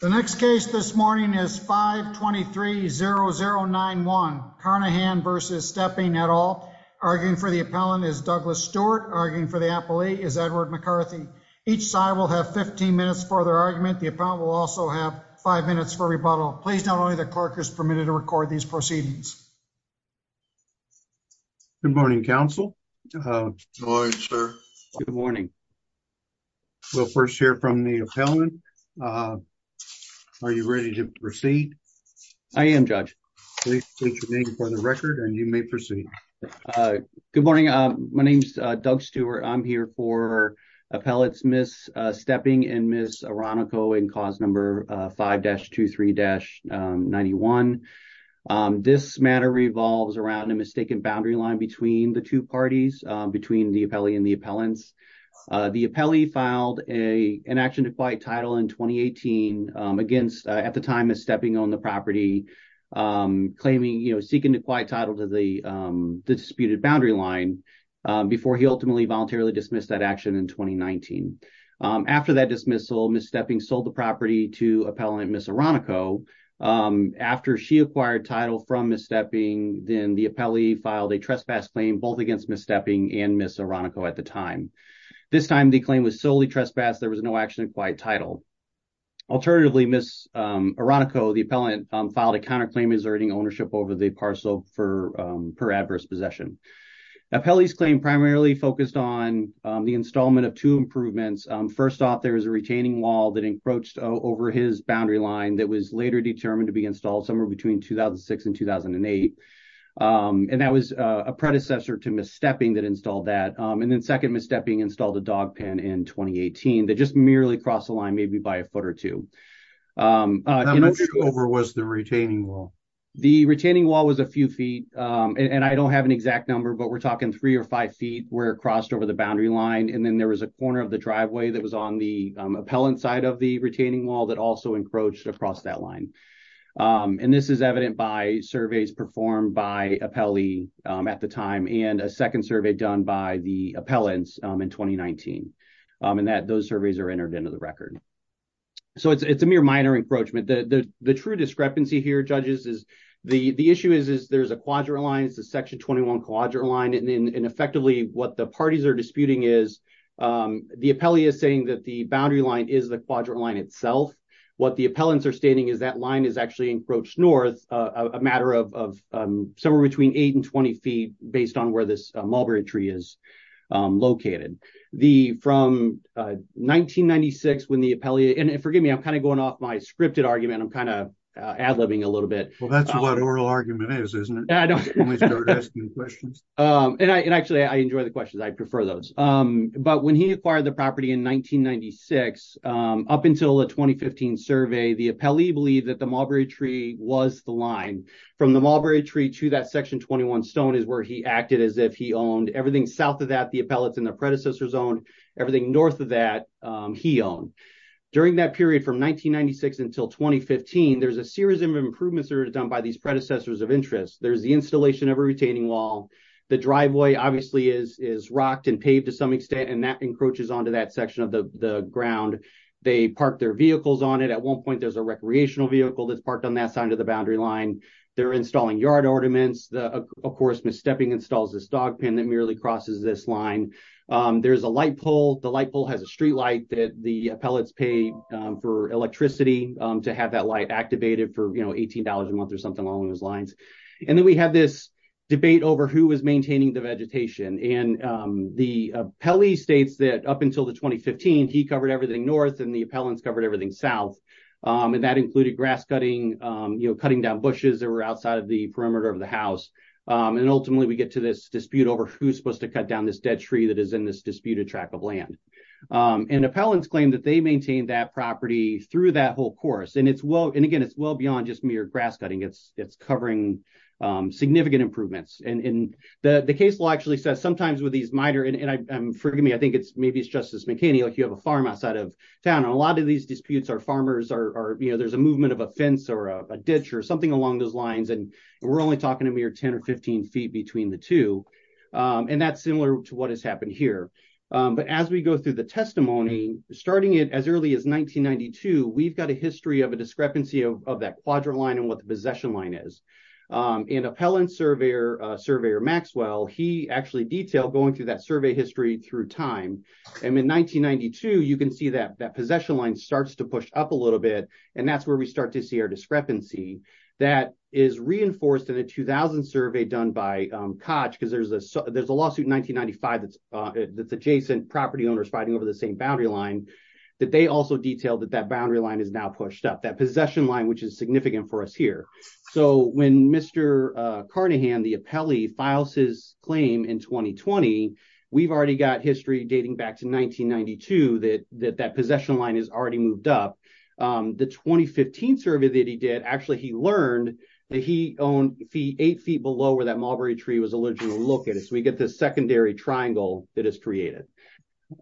The next case this morning is 523-0091 Carnahan v. Stepping et al. Arguing for the appellant is Douglas Stewart. Arguing for the appellate is Edward McCarthy. Each side will have 15 minutes for their argument. The appellant will also have 5 minutes for rebuttal. Please note only the clerk is permitted to record these proceedings. Good morning, counsel. Good morning, sir. Good morning. We'll first hear from the appellant. Are you ready to proceed? I am, Judge. Please state your name for the record and you may proceed. Good morning. My name is Doug Stewart. I'm here for appellate Ms. Stepping and Ms. Aronico in cause number 5-23-0091. This matter revolves around a mistaken boundary line between the two parties, between the appellee and the appellants. The appellee filed an action to quiet title in 2018 against, at the time, Ms. Stepping owned the property, claiming, you know, seeking to quiet title to the disputed boundary line before he ultimately voluntarily dismissed that action in 2019. After that dismissal, Ms. Stepping sold the property to appellant Ms. Aronico. After she acquired title from Ms. Stepping, then the appellee filed a trespass claim, both against Ms. Stepping and Ms. Aronico at the time. This time, the claim was solely trespassed. There was no action to quiet title. Alternatively, Ms. Aronico, the appellant, filed a counterclaim exerting ownership over the parcel per adverse possession. Appellee's claim primarily focused on the installment of two improvements. First off, there was a retaining wall that encroached over his boundary line that was later determined to be installed somewhere between 2006 and 2008. And that was a predecessor to Ms. Stepping that installed that. And then second, Ms. Stepping installed a dog pen in 2018 that just merely crossed the line maybe by a foot or two. I'm not sure how over was the retaining wall. The retaining wall was a few feet. And I don't have an exact number, but we're talking three or five feet where it crossed over the boundary line. And then there was a corner of the driveway that was on the appellant side of the retaining wall that also encroached across that line. And this is evident by surveys performed by appellee at the time and a second survey done by the appellants in 2019. And that those surveys are entered into the record. So it's a mere minor encroachment. The true discrepancy here, judges, is the issue is there's a quadrant line, section 21 quadrant line. And effectively what the parties are disputing is the appellee is saying that the boundary line is the quadrant line itself. What the appellants are stating is that line is actually encroached north a matter of somewhere between eight and 20 feet based on where this mulberry tree is located. The from 1996 when the appellee and forgive me, I'm kind of going off my scripted argument. I'm kind of ad libbing a little bit. That's what oral argument is, isn't it? I don't know. And actually, I enjoy the questions. I prefer those. But when he acquired the property in 1996, up until the 2015 survey, the appellee believed that the mulberry tree was the line from the mulberry tree to that section. 21 stone is where he acted as if he owned everything south of that the appellate in the predecessor zone, everything north of that he own. During that period from 1996 until 2015, there's a series of improvements are done by these predecessors of interest. There's the installation of a retaining wall. The driveway obviously is is rocked and paved to some extent, and that encroaches onto that section of the ground. They park their vehicles on it. At one point, there's a recreational vehicle that's parked on that side of the boundary line. They're installing yard ornaments. Of course, Miss Stepping installs this dog pen that merely crosses this line. There's a light pole. The light pole has a street light that the appellates pay for electricity to have that light activated for, you know, $18 a month or something along those lines. And then we have this debate over who is maintaining the vegetation. And the appellee states that up until the 2015, he covered everything north and the appellants covered everything south. And that included grass cutting, cutting down bushes that were outside of the perimeter of the house. And ultimately, we get to this dispute over who's supposed to cut down this dead tree that is in this disputed track of land. And appellants claim that they maintain that property through that whole course. And it's well and again, it's well beyond just mere grass cutting. It's covering significant improvements. And the case law actually says sometimes with these minor and forgive me, I think it's maybe it's Justice McKinney, like you have a farm outside of town. And a lot of these disputes are farmers are, you know, there's a movement of a fence or a ditch or something along those lines. And we're only talking a mere 10 or 15 feet between the two. And that's similar to what has happened here. But as we go through the testimony, starting it as early as 1992, we've got a history of a discrepancy of that quadrant line and what the possession line is. And appellant surveyor, surveyor Maxwell, he actually detailed going through that survey history through time. And in 1992, you can see that that possession line starts to push up a little bit. And that's where we start to see our discrepancy that is reinforced in a 2000 survey done by Koch because there's a there's a lawsuit in 1995. That's that's adjacent property owners fighting over the same boundary line that they also detailed that that boundary line is now pushed up that possession line, which is significant for us here. So when Mr. Carnahan, the appellee, files his claim in 2020, we've already got history dating back to 1992 that that that possession line is already moved up. The 2015 survey that he did, actually he learned that he owned eight feet below where that mulberry tree was allegedly located. So we get this secondary triangle that is created.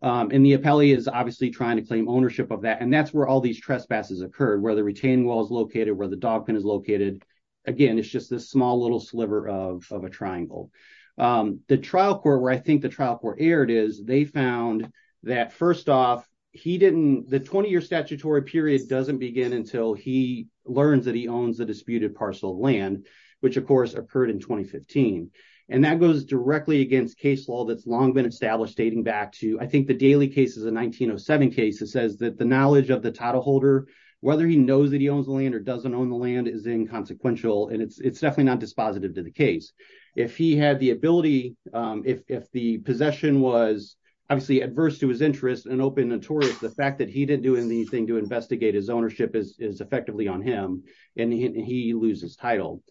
And the appellee is obviously trying to claim ownership of that and that's where all these trespasses occurred where the retaining wall is located where the dog pen is located. Again, it's just this small little sliver of a triangle. The trial court where I think the trial court aired is they found that first off, he didn't the 20 year statutory period doesn't begin until he learns that he owns the disputed parcel of land, which of course occurred in 2015. And that goes directly against case law that's long been established dating back to I think the daily cases in 1907 cases says that the knowledge of the title holder, whether he knows that he owns the land or doesn't own the land is inconsequential and it's it's definitely not dispositive to the case. If he had the ability. If the possession was obviously adverse to his interest and open notorious the fact that he didn't do anything to investigate his ownership is effectively on him, and he loses title.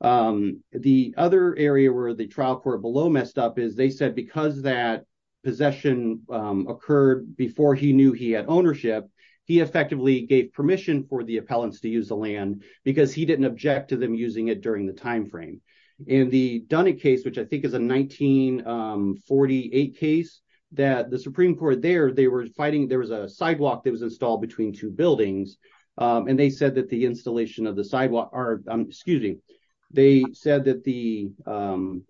The other area where the trial court below messed up is they said because that possession occurred before he knew he had ownership. He effectively gave permission for the appellants to use the land, because he didn't object to them using it during the they said that the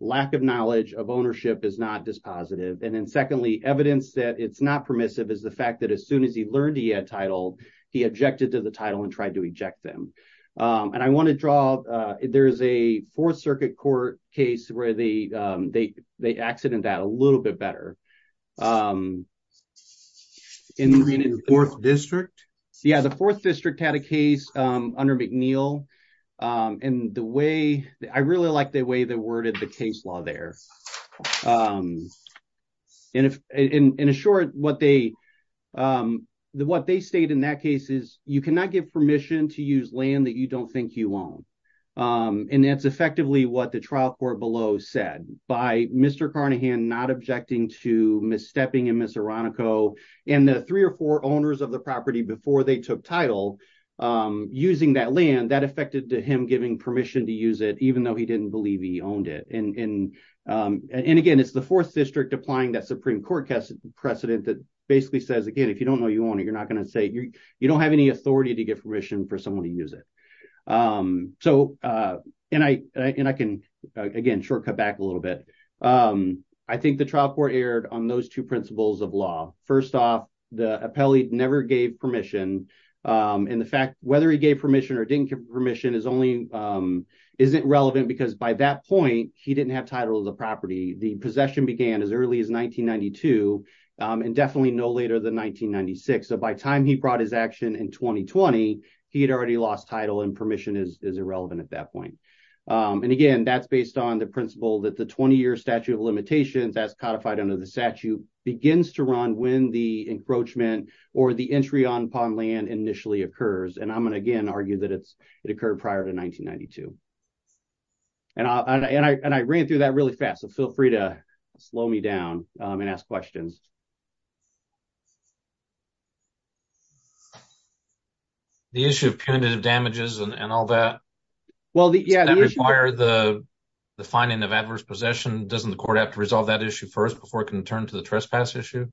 lack of knowledge of ownership is not dispositive and then secondly evidence that it's not permissive is the fact that as soon as he learned he had title. He objected to the title and tried to reject them. And I want to draw. There's a Fourth Circuit court case where they, they, they accident that a little bit better. In the fourth district. Yeah, the fourth district had a case under McNeil. And the way that I really liked the way that worded the case law there. In a, in a short, what they, what they state in that case is, you cannot give permission to use land that you don't think you own. And that's effectively what the trial court below said by Mr Carnahan not objecting to miss stepping in Miss Veronica, and the three or four owners of the property before they took title, using that land that affected to him giving permission to use it, even though he didn't believe he owned it and. And again, it's the fourth district applying that Supreme Court precedent precedent that basically says again if you don't know you want it, you're not going to say you, you don't have any authority to give permission for someone to use it. So, and I, and I can again shortcut back a little bit. I think the trial court aired on those two principles of law. First off, the appellate never gave permission. And the fact, whether he gave permission or didn't give permission is only isn't relevant because by that point, he didn't have title of the property, the possession began as early as 1992, and definitely no later than 1996 so by time he brought his action in 2020, he had already lost title and permission is irrelevant at that point. And again, that's based on the principle that the 20 year statute of limitations as codified under the statute begins to run when the encroachment, or the entry on pond land initially occurs and I'm going to again argue that it's occurred prior to 1992. And I ran through that really fast so feel free to slow me down and ask questions. The issue of punitive damages and all that. Well, the fire the finding of adverse possession doesn't the court have to resolve that issue first before it can turn to the trespass issue.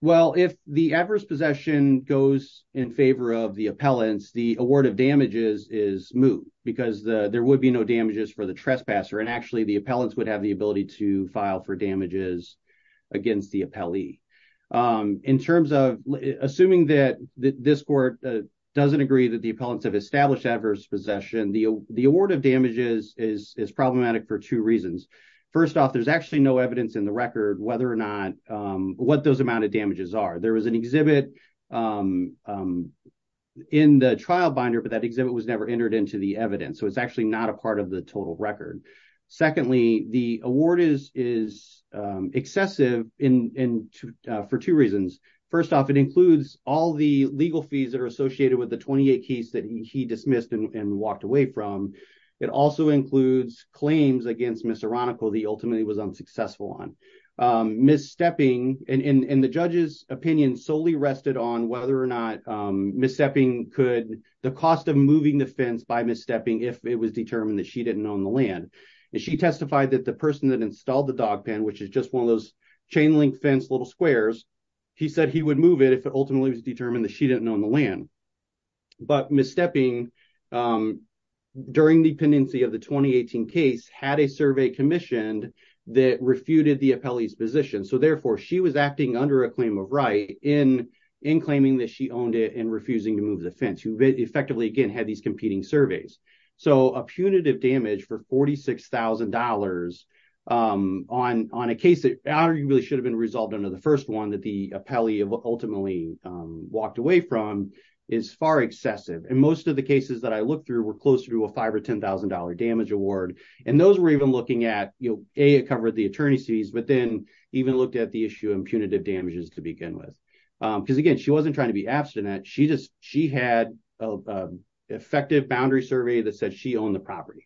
Well, if the adverse possession goes in favor of the appellants the award of damages is moot, because there would be no damages for the trespasser and actually the appellants would have the ability to file for damages against the appellee. In terms of assuming that this court doesn't agree that the appellants have established adverse possession the, the award of damages is problematic for two reasons. First off, there's actually no evidence in the record whether or not what those amount of damages are there was an exhibit in the trial binder but that exhibit was never entered into the evidence so it's actually not a part of the total record. Secondly, the award is is excessive in for two reasons. First off, it includes all the legal fees that are associated with the 28 keys that he dismissed and walked away from. It also includes claims against Mr radical the ultimately was unsuccessful on misstepping, and the judges opinion solely rested on whether or not misstepping could the cost of moving the fence by misstepping if it was determined that she didn't own the land. She testified that the person that installed the dog pen which is just one of those chain link fence little squares. He said he would move it if it ultimately was determined that she didn't own the land. But misstepping. During the pendency of the 2018 case had a survey commissioned that refuted the appellees position so therefore she was acting under a claim of right in in claiming that she owned it and refusing to move the fence who effectively again had these competing is far excessive and most of the cases that I looked through were close to a five or $10,000 damage award. And those were even looking at, you know, a cover the attorneys fees but then even looked at the issue and punitive damages to begin with, because again she wasn't trying to be abstinent she just, she had effective boundary survey that said she owned the property.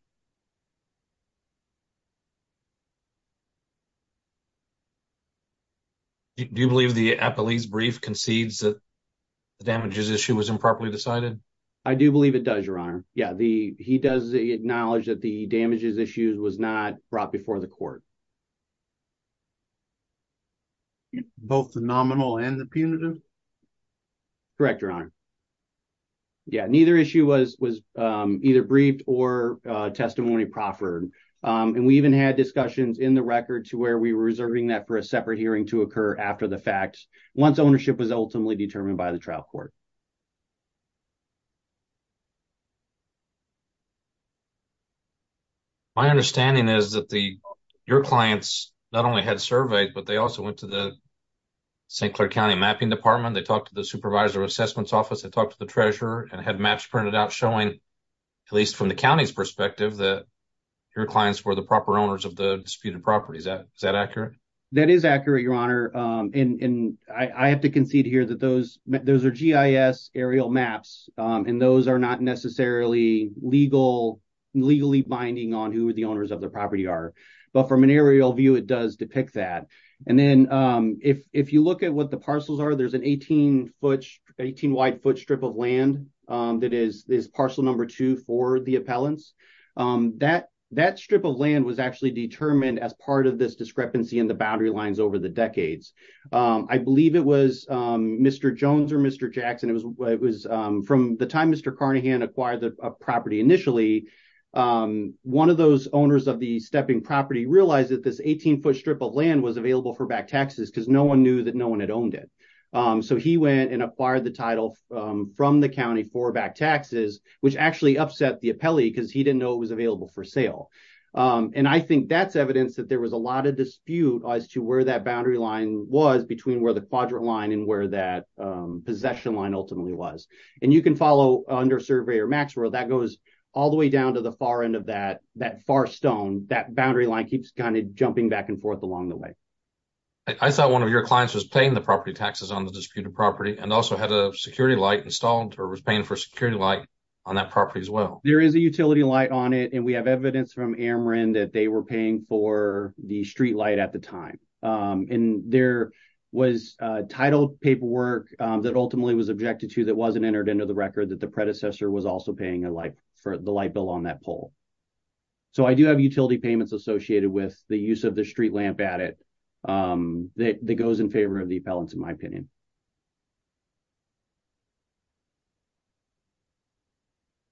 Do you believe the appellees brief concedes that the damages issue was improperly decided. I do believe it does your honor. Yeah, the, he does acknowledge that the damages issues was not brought before the court. Both the nominal and the punitive. Correct your honor. Yeah, neither issue was was either briefed or testimony proffered. And we even had discussions in the record to where we were reserving that for a separate hearing to occur after the fact, once ownership was ultimately determined by the trial court. My understanding is that the, your clients, not only had surveyed but they also went to the St. Clair County mapping department they talked to the supervisor assessments office and talk to the treasurer and had maps printed out showing, at least from the county's of the disputed properties that is that accurate. That is accurate your honor, and I have to concede here that those, those are GIS aerial maps, and those are not necessarily legal legally binding on who are the owners of the property are, but from an aerial view it does depict that. And then, if you look at what the parcels are there's an 18 foot 18 wide foot strip of land. That is this parcel number two for the appellants that that strip of land was actually determined as part of this discrepancy in the boundary lines over the decades. I believe it was Mr. Jones or Mr. Jackson, it was, it was from the time Mr Carnahan acquired the property initially. One of those owners of the stepping property realize that this 18 foot strip of land was available for back taxes because no one knew that no one had owned it. So he went and acquired the title from the county for back taxes, which actually upset the appellee because he didn't know it was available for sale. And I think that's evidence that there was a lot of dispute as to where that boundary line was between where the quadrant line and where that possession line ultimately was. And you can follow under survey or Maxwell that goes all the way down to the far end of that that far stone that boundary line keeps kind of jumping back and forth along the way. I thought one of your clients was paying the property taxes on the disputed property and also had a security light installed or was paying for security light on that property as well. There is a utility light on it and we have evidence from Aaron that they were paying for the street light at the time. And there was titled paperwork that ultimately was objected to that wasn't entered into the record that the predecessor was also paying a light for the light bill on that poll. So I do have utility payments associated with the use of the street lamp at it that goes in favor of the balance in my opinion.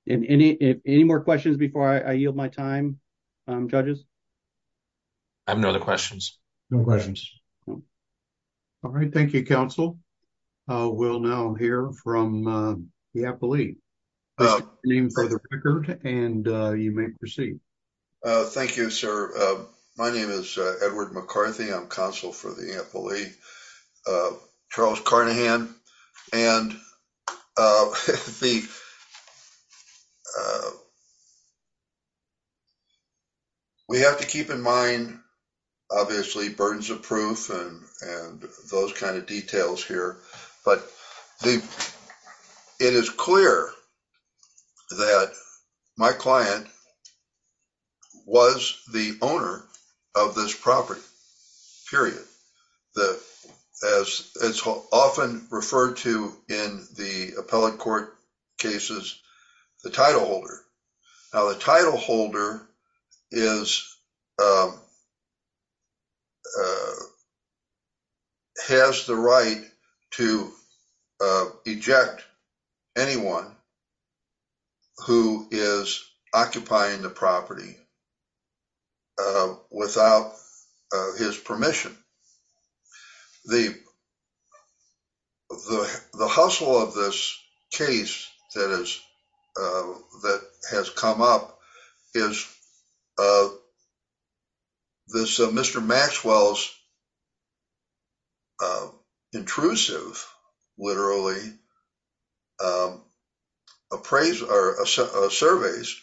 And if any more questions before I yield my time judges. I have no other questions. No questions. All right, thank you counsel. We'll now hear from the appellee name for the record and you may proceed. Thank you, sir. My name is Edward McCarthy I'm counsel for the employee. Charles Carnahan, and the. We have to keep in mind, obviously burdens of proof and those kind of details here, but it is clear that my client. Was the owner of this property period. As it's often referred to in the appellate court cases, the title holder. Has the right to eject anyone who is occupying the property without his permission. The, the, the hustle of this case, that is, that has to do with this property. And the other thing that has come up is. This Mr. Maxwell's. Intrusive literally. Appraise our surveys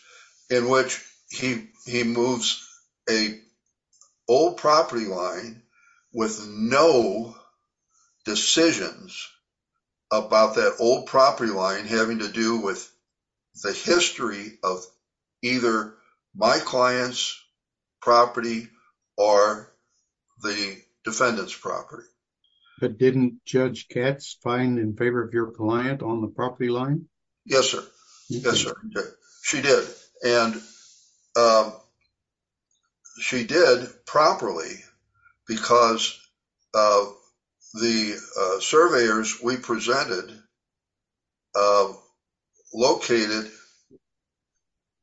in which he, he moves a. Property line with no decisions. About that old property line having to do with. The history of either my clients. Property or the defendants property. But didn't judge cats find in favor of your client on the property line. Yes, sir. Yes, sir. She did and. She did properly. Because. The surveyors we presented. Located.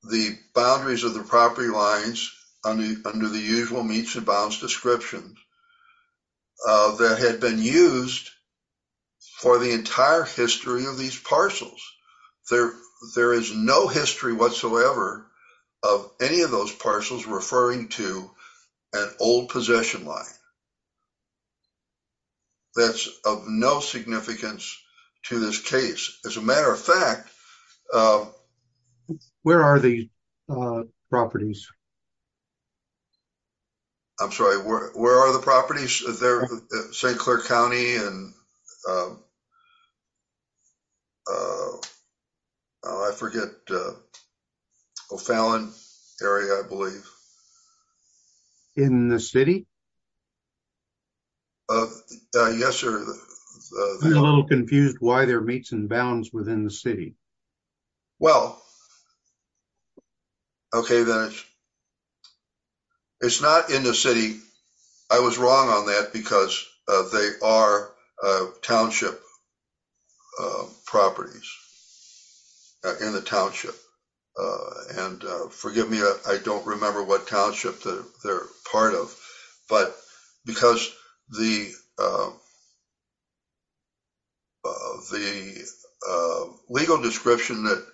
The boundaries of the property lines. Under the usual meets and bounds description. That had been used. For the entire history of these parcels. There, there is no history whatsoever. Of any of those parcels referring to. An old possession line. That's of no significance. To this case, as a matter of fact. Where are the properties? I'm sorry, where, where are the properties? Is there. St. Clair county and. I forget. Oh, Fallon area, I believe. In the city. Yes, sir. Confused why their meets and bounds within the city. Well, okay. Okay. It's not in the city. I was wrong on that because they are. Township. Properties. In the township. And forgive me. I don't remember what township. They're part of. But because the. The legal description that.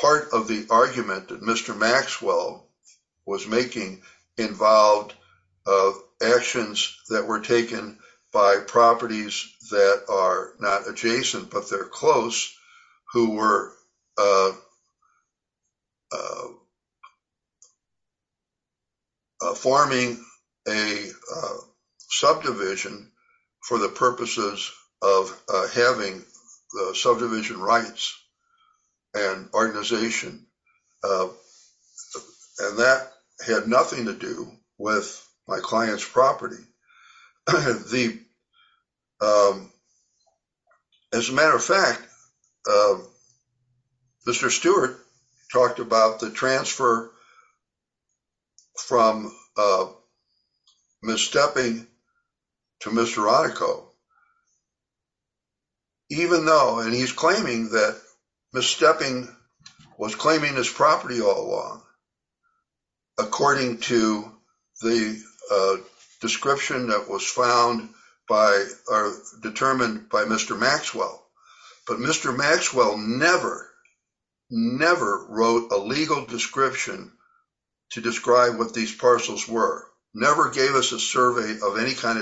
Part of the argument that Mr. Maxwell. Was making involved. Actions that were taken. By properties that are not adjacent, but they're close. Who were. The. The. Forming a. Subdivision. For the purposes of having the subdivision rights. And organization. And that had nothing to do with my client's property. Okay. The. As a matter of fact. Mr. Stewart talked about the transfer. From. Miss stepping. To Mr. Even though, and he's claiming that. Mr. Stepping was claiming his property all along. According to the. Description that was found. By determined by Mr. Maxwell. But Mr. Maxwell never. Never wrote a legal description. To describe what these parcels were never gave us a survey of any kind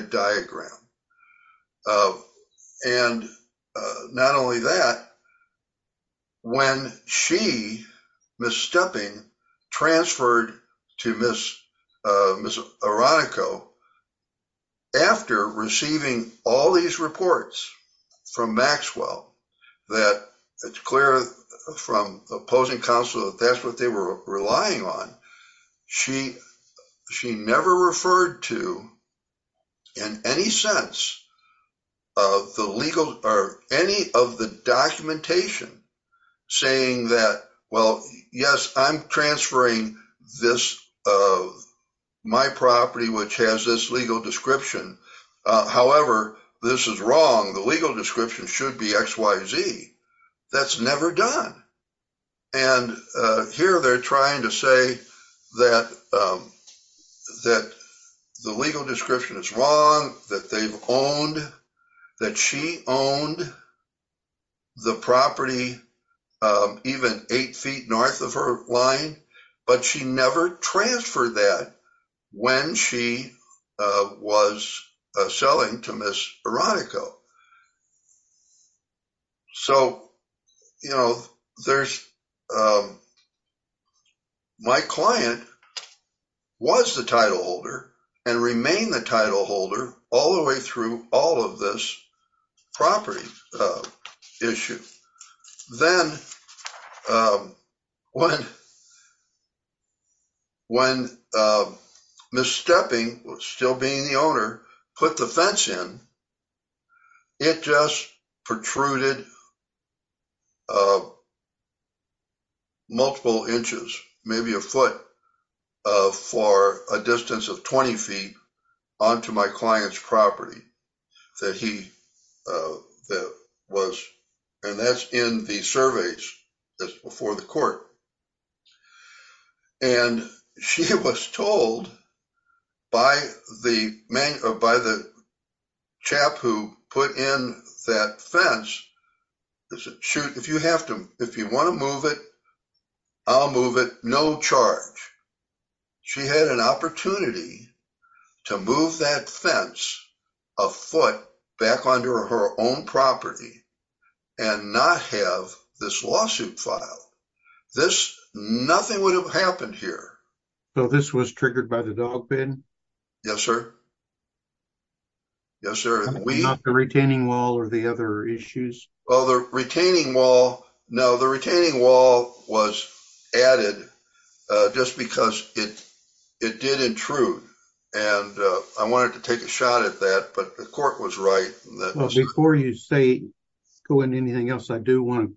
And. Not only that. When she. Miss stepping. Transferred to miss. Miss. After receiving all these reports. From Maxwell. That it's clear. From the opposing council. That's what they were relying on. She. She never referred to. The legal description. In any sense. Of the legal or any of the documentation. Saying that, well, yes, I'm transferring this. My property, which has this legal description. However, this is wrong. The legal description should be X, Y, Z. That's never done. And here they're trying to say that. That the legal description is wrong. That they've owned. That she owned. The property. Even eight feet north of her line. But she never transferred that. When she was. Miss. Miss selling to miss Veronica. So. You know, there's. My client. Was the title holder. And remain the title holder all the way through all of this. Property. Issue. Then. When. When. Miss stepping. Still being the owner put the fence in. It just protruded. Multiple inches, maybe a foot. For a distance of 20 feet. And she was told. On to my client's property. That he. That was. And that's in the surveys. That's before the court. And she was told. By the man. By the. Chap who put in that fence. Shoot. If you have to, if you want to move it. I'll move it. No charge. She had an opportunity. To move that fence. A foot back onto her own property. And not have this lawsuit file. This nothing would have happened here. So this was triggered by the dog bin. Yes, sir. Yes, sir. Okay. The retaining wall or the other issues. Well, the retaining wall. No, the retaining wall was. Added. Just because it. It did intrude. And I wanted to take a shot at that, but the court was right. Before you say. Okay. Cool. And anything else? I do want.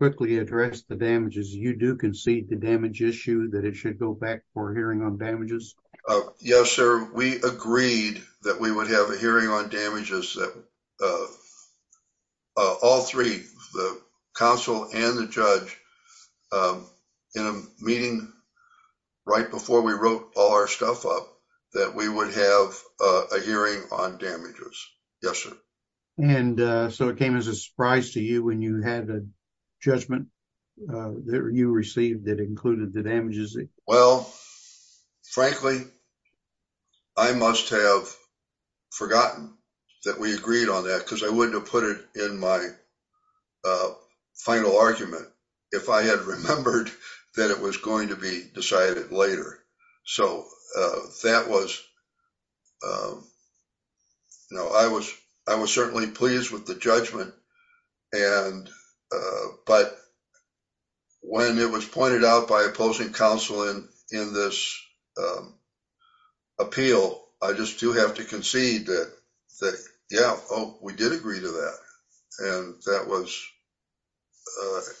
Quickly address the damages. You do concede the damage issue that it should go back for hearing on damages. Yes, sir. We agreed that we would have a hearing on damages. All three. The council and the judge. In a meeting. Right before we wrote all our stuff up. We agreed that we would have a hearing on damages. Yes, sir. And so it came as a surprise to you when you had a judgment. You received that included the damages. Well, Frankly. I must have. Forgotten. That we agreed on that because I wouldn't have put it in my. Final argument. If I had remembered that it was going to be decided later. So that was. No, I was, I was certainly pleased with the judgment. And, but. When it was pointed out by opposing counseling in this. Appeal. I just do have to concede that. Yeah. Oh, we did agree to that. Okay. And that was.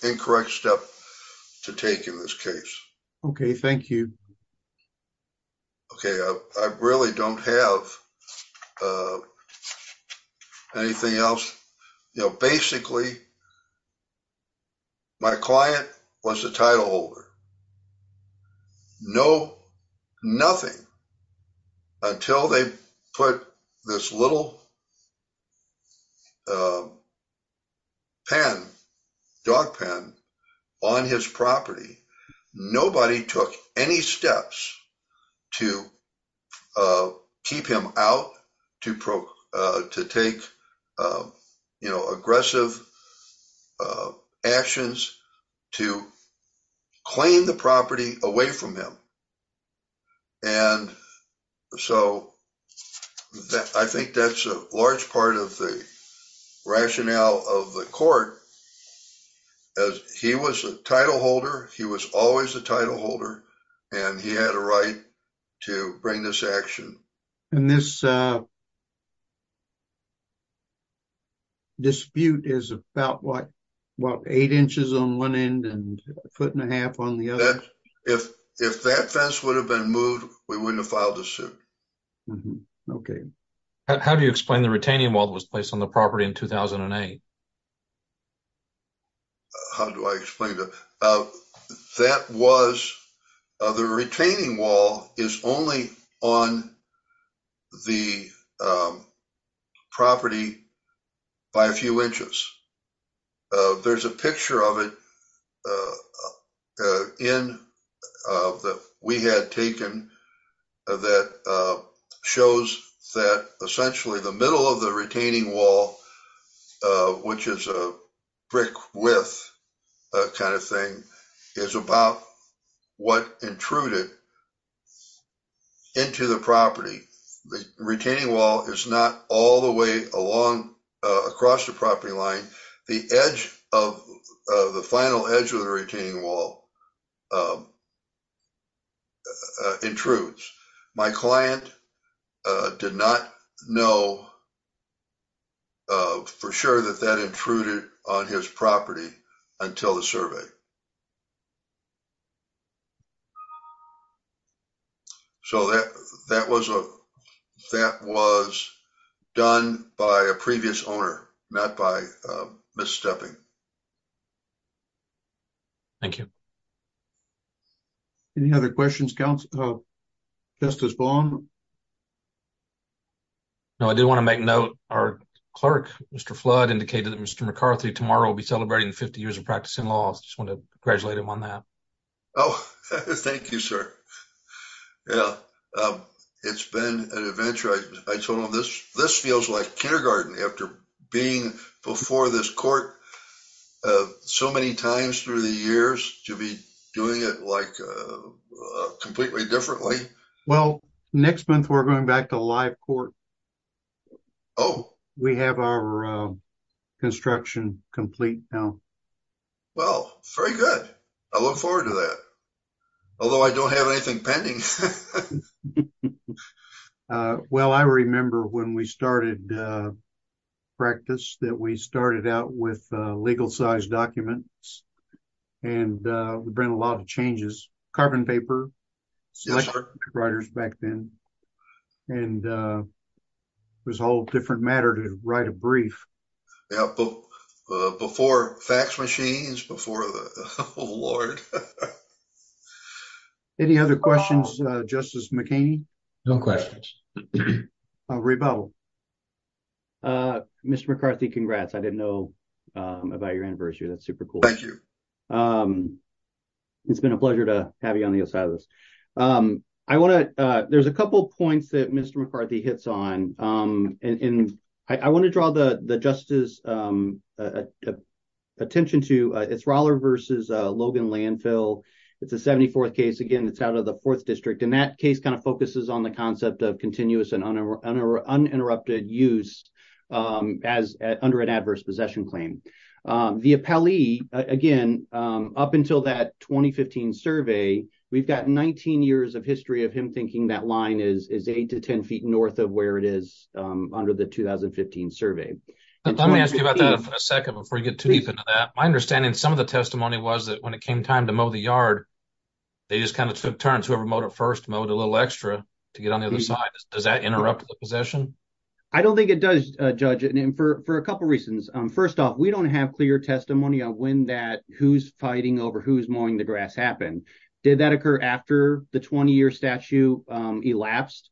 Incorrect step. To take in this case. Okay. Thank you. Okay. I really don't have. Anything else. You know, basically. My client was a title holder. No. Nothing. He was a title holder. Until they put this little. Pen. Dog pen. On his property. Nobody took any steps. To. Keep him out to, to take. You know, aggressive. Actions. To. Claim the property away from him. And so. I think that's a large part of the. Rationale of the court. As he was a title holder. He was always a title holder. And he had a right. To bring this action. And this. And. Dispute is about what. What eight inches on one end and a foot and a half on the other. If that fence would have been moved. We wouldn't have filed a suit. Okay. How do you explain the retaining wall that was placed on the property in 2008? How do I explain that? That was. The retaining wall. The retaining wall is only on. The. Property. By a few inches. There's a picture of it. In. We had taken. That shows that essentially the middle of the retaining wall. The middle of the retaining wall. Which is a brick with. Kind of thing. Is about. What intruded. Into the property. Retaining wall is not all the way along across the property line. The edge of the final edge of the retaining wall. Intrudes. My client. Did not know. For sure that that intruded on his property. Until the survey. So that, that was a. That was. Done by a previous owner. Not by misstepping. Thank you. Any other questions counts. No, I did want to make note. Our clerk, Mr flood indicated that Mr McCarthy tomorrow will be celebrating 50 years of practice in law. I just want to congratulate him on that. Oh, thank you, sir. Yeah. It's been an adventure. I told him this, this feels like kindergarten after being before this court. So many times through the years to be doing it, Like, Completely differently. Well, next month, we're going back to live court. Oh, we have our construction complete. Well, very good. I look forward to that. Although I don't have anything pending. Well, I remember when we started. Practice that we started out with legal size documents. And we've been a lot of changes, carbon paper. Writers back then. And. There's a whole different matter to write a brief. Before fax machines before. Oh, Lord. Any other questions, justice McCain. No questions. Mr McCarthy congrats. I didn't know about your anniversary. That's super cool. Thank you. It's been a pleasure to have you on the other side of this. I want to, there's a couple of points that Mr. McCarthy hits on. And I want to draw the justice. Attention to it's Roller versus Logan landfill. It's a 74th case. Again, it's out of the fourth district. And that case kind of focuses on the concept of continuous and. Uninterrupted use. Of landfills. As under an adverse possession claim. The appellee again. Up until that 2015 survey, we've got 19 years of history of him thinking that line is, is eight to 10 feet North of where it is under the 2015 survey. Let me ask you about that for a second before you get too deep into that. Yeah. My understanding. Some of the testimony was that when it came time to mow the yard. They just kind of took turns. Whoever motor first mode, a little extra to get on the other side. Does that interrupt the possession? I don't think it does judge it. And for a couple of reasons, first off, we don't have clear testimony on when that who's fighting over who's mowing the grass happened. Did that occur after the 20 year statue? I don't know if it was after the 20 year statue elapsed.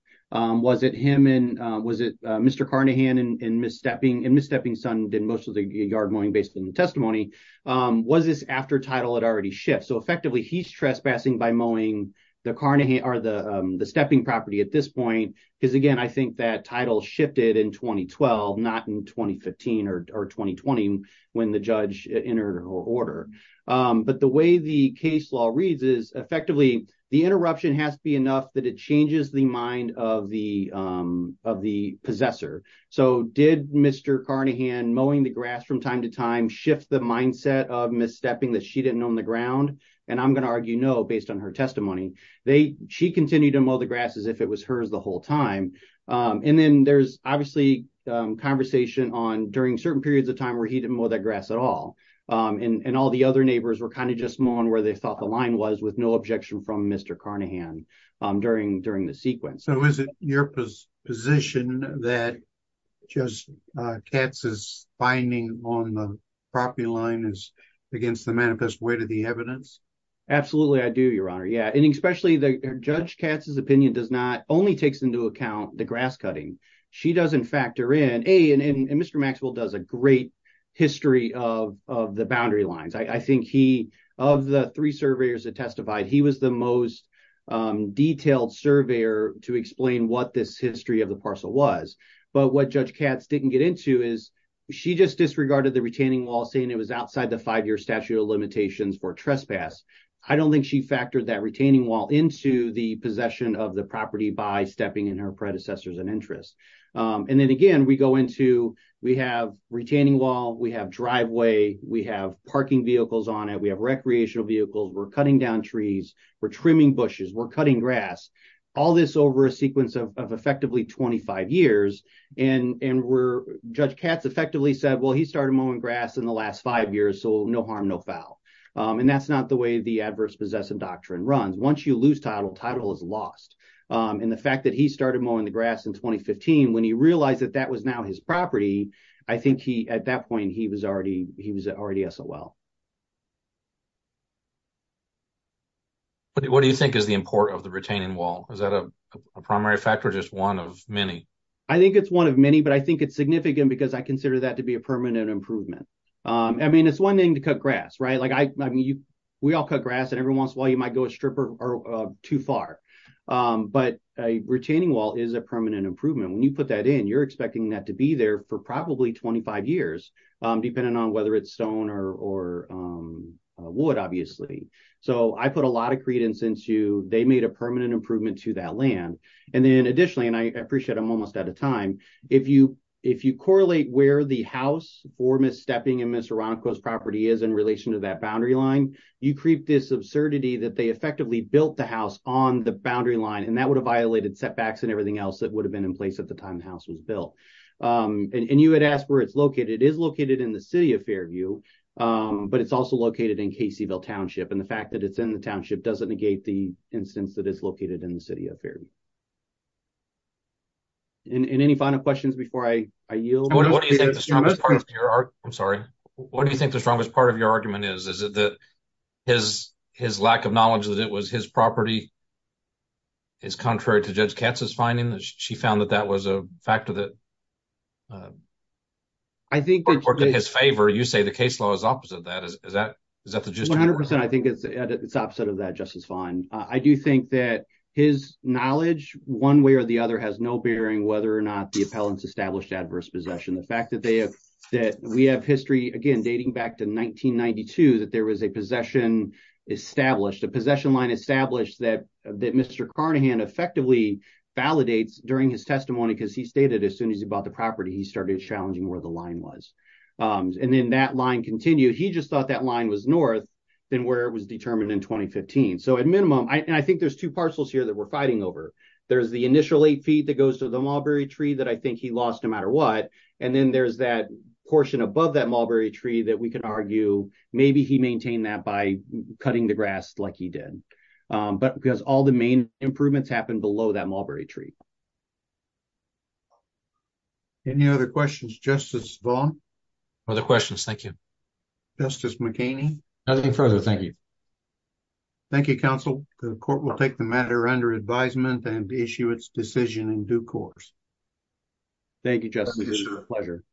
Was it him in, was it Mr. Carnahan and misstepping and misstepping son. Did most of the yard mowing based on the testimony. Was this after title had already shipped. So effectively he's trespassing by mowing. The Carnegie are the, the stepping property at this point. I think that title shifted in 2012, not in 2015 or 2020 when the judge entered her order. But the way the case law reads is effectively the interruption has to be enough that it changes the mind of the, of the possessor. So did Mr. Carnahan mowing the grass from time to time shift the mindset of misstepping that she didn't know on the ground. And I'm going to argue, no, based on her testimony, they, she continued to mow the grass as if it was hers the whole time. And then there's obviously conversation on during certain periods of time where he didn't mow that grass at all. And all the other neighbors were kind of just more on where they thought the line was with no objection from Mr. Carnahan during, during the sequence. Your position that just cats is finding on the property line is against the manifest way to the evidence. Absolutely. I do your honor. Yeah. And especially the judge Katz's opinion does not only takes into account the grass cutting. She doesn't factor in a and Mr. Maxwell does a great history of, of the boundary lines. I think he, of the three surveyors that testified, he was the most detailed surveyor to explain what this history of the parcel was. But what judge cats didn't get into is she just disregarded the retaining wall saying it was outside the five-year statute of limitations for trespass. I don't think she factored that retaining wall into the possession of the property by stepping in her predecessors and interest. And then again, we go into, we have retaining wall, we have driveway, we have parking vehicles on it. We have recreational vehicles. We're cutting down trees. We're trimming bushes. We're cutting grass. All this over a sequence of effectively 25 years. And we're judge cats effectively said, well, he started mowing grass in the last five years. So no harm, no foul. And that's not the way the adverse possessive doctrine runs. Once you lose title title is lost. And the fact that he started mowing the grass in 2015, when he realized that that was now his property, I think he, at that point, he was already, he was already SOL. What do you think is the import of the retaining wall? Is that a primary factor or just one of many? I think it's one of many, but I think it's significant because I consider that to be a permanent improvement. I mean, it's one thing to cut grass, right? Like I, I mean, you, we all cut grass and every once in a while you might go a stripper or too far, but a retaining wall is a permanent improvement. When you put that in, you're expecting that to be there for probably 25 years, depending on whether it's stone or, or wood, obviously. So I put a lot of credence into, they made a permanent improvement to that land. And then additionally, and I appreciate I'm almost out of time. If you, if you correlate where the house for miss stepping in, the Serrano coast property is in relation to that boundary line, you creep this absurdity that they effectively built the house on the boundary line. And that would have violated setbacks and everything else that would have been in place at the time the house was built. And you had asked where it's located is located in the city of Fairview, but it's also located in Caseyville township. And the fact that it's in the township doesn't negate the instance that it's located in the city of fair. And any final questions before I yield? I'm sorry. What do you think the strongest part of your argument is, is it that his, his lack of knowledge that it was his property. It's contrary to judge Katz's finding that she found that that was a factor that. I think his favor, you say the case law is opposite of that. Is that, is that the gist? I think it's opposite of that justice fine. I do think that his knowledge one way or the other has no bearing, whether or not the appellants established adverse possession, the fact that they have, that we have history again, dating back to 1992, that there was a possession established, a possession line established that, that Mr Carnahan effectively validates during his testimony, because he stated as soon as he bought the property, he started challenging where the line was. And then that line continued. He just thought that line was north than where it was determined in 2015. So at minimum, I think there's two parcels here that we're fighting over. There's the initial eight feet that goes to the mulberry tree that I think he lost no matter what. And then there's that portion above that mulberry tree that we can argue. Maybe he maintained that by cutting the grass like he did, but because all the main improvements happened below that mulberry tree. Any other questions, justice Vaughn or the questions. Thank you. Justice McCain. Nothing further. Thank you. Thank you. Thank you counsel. The court will take the matter under advisement and issue its decision in due course. Thank you, justice. Pleasure.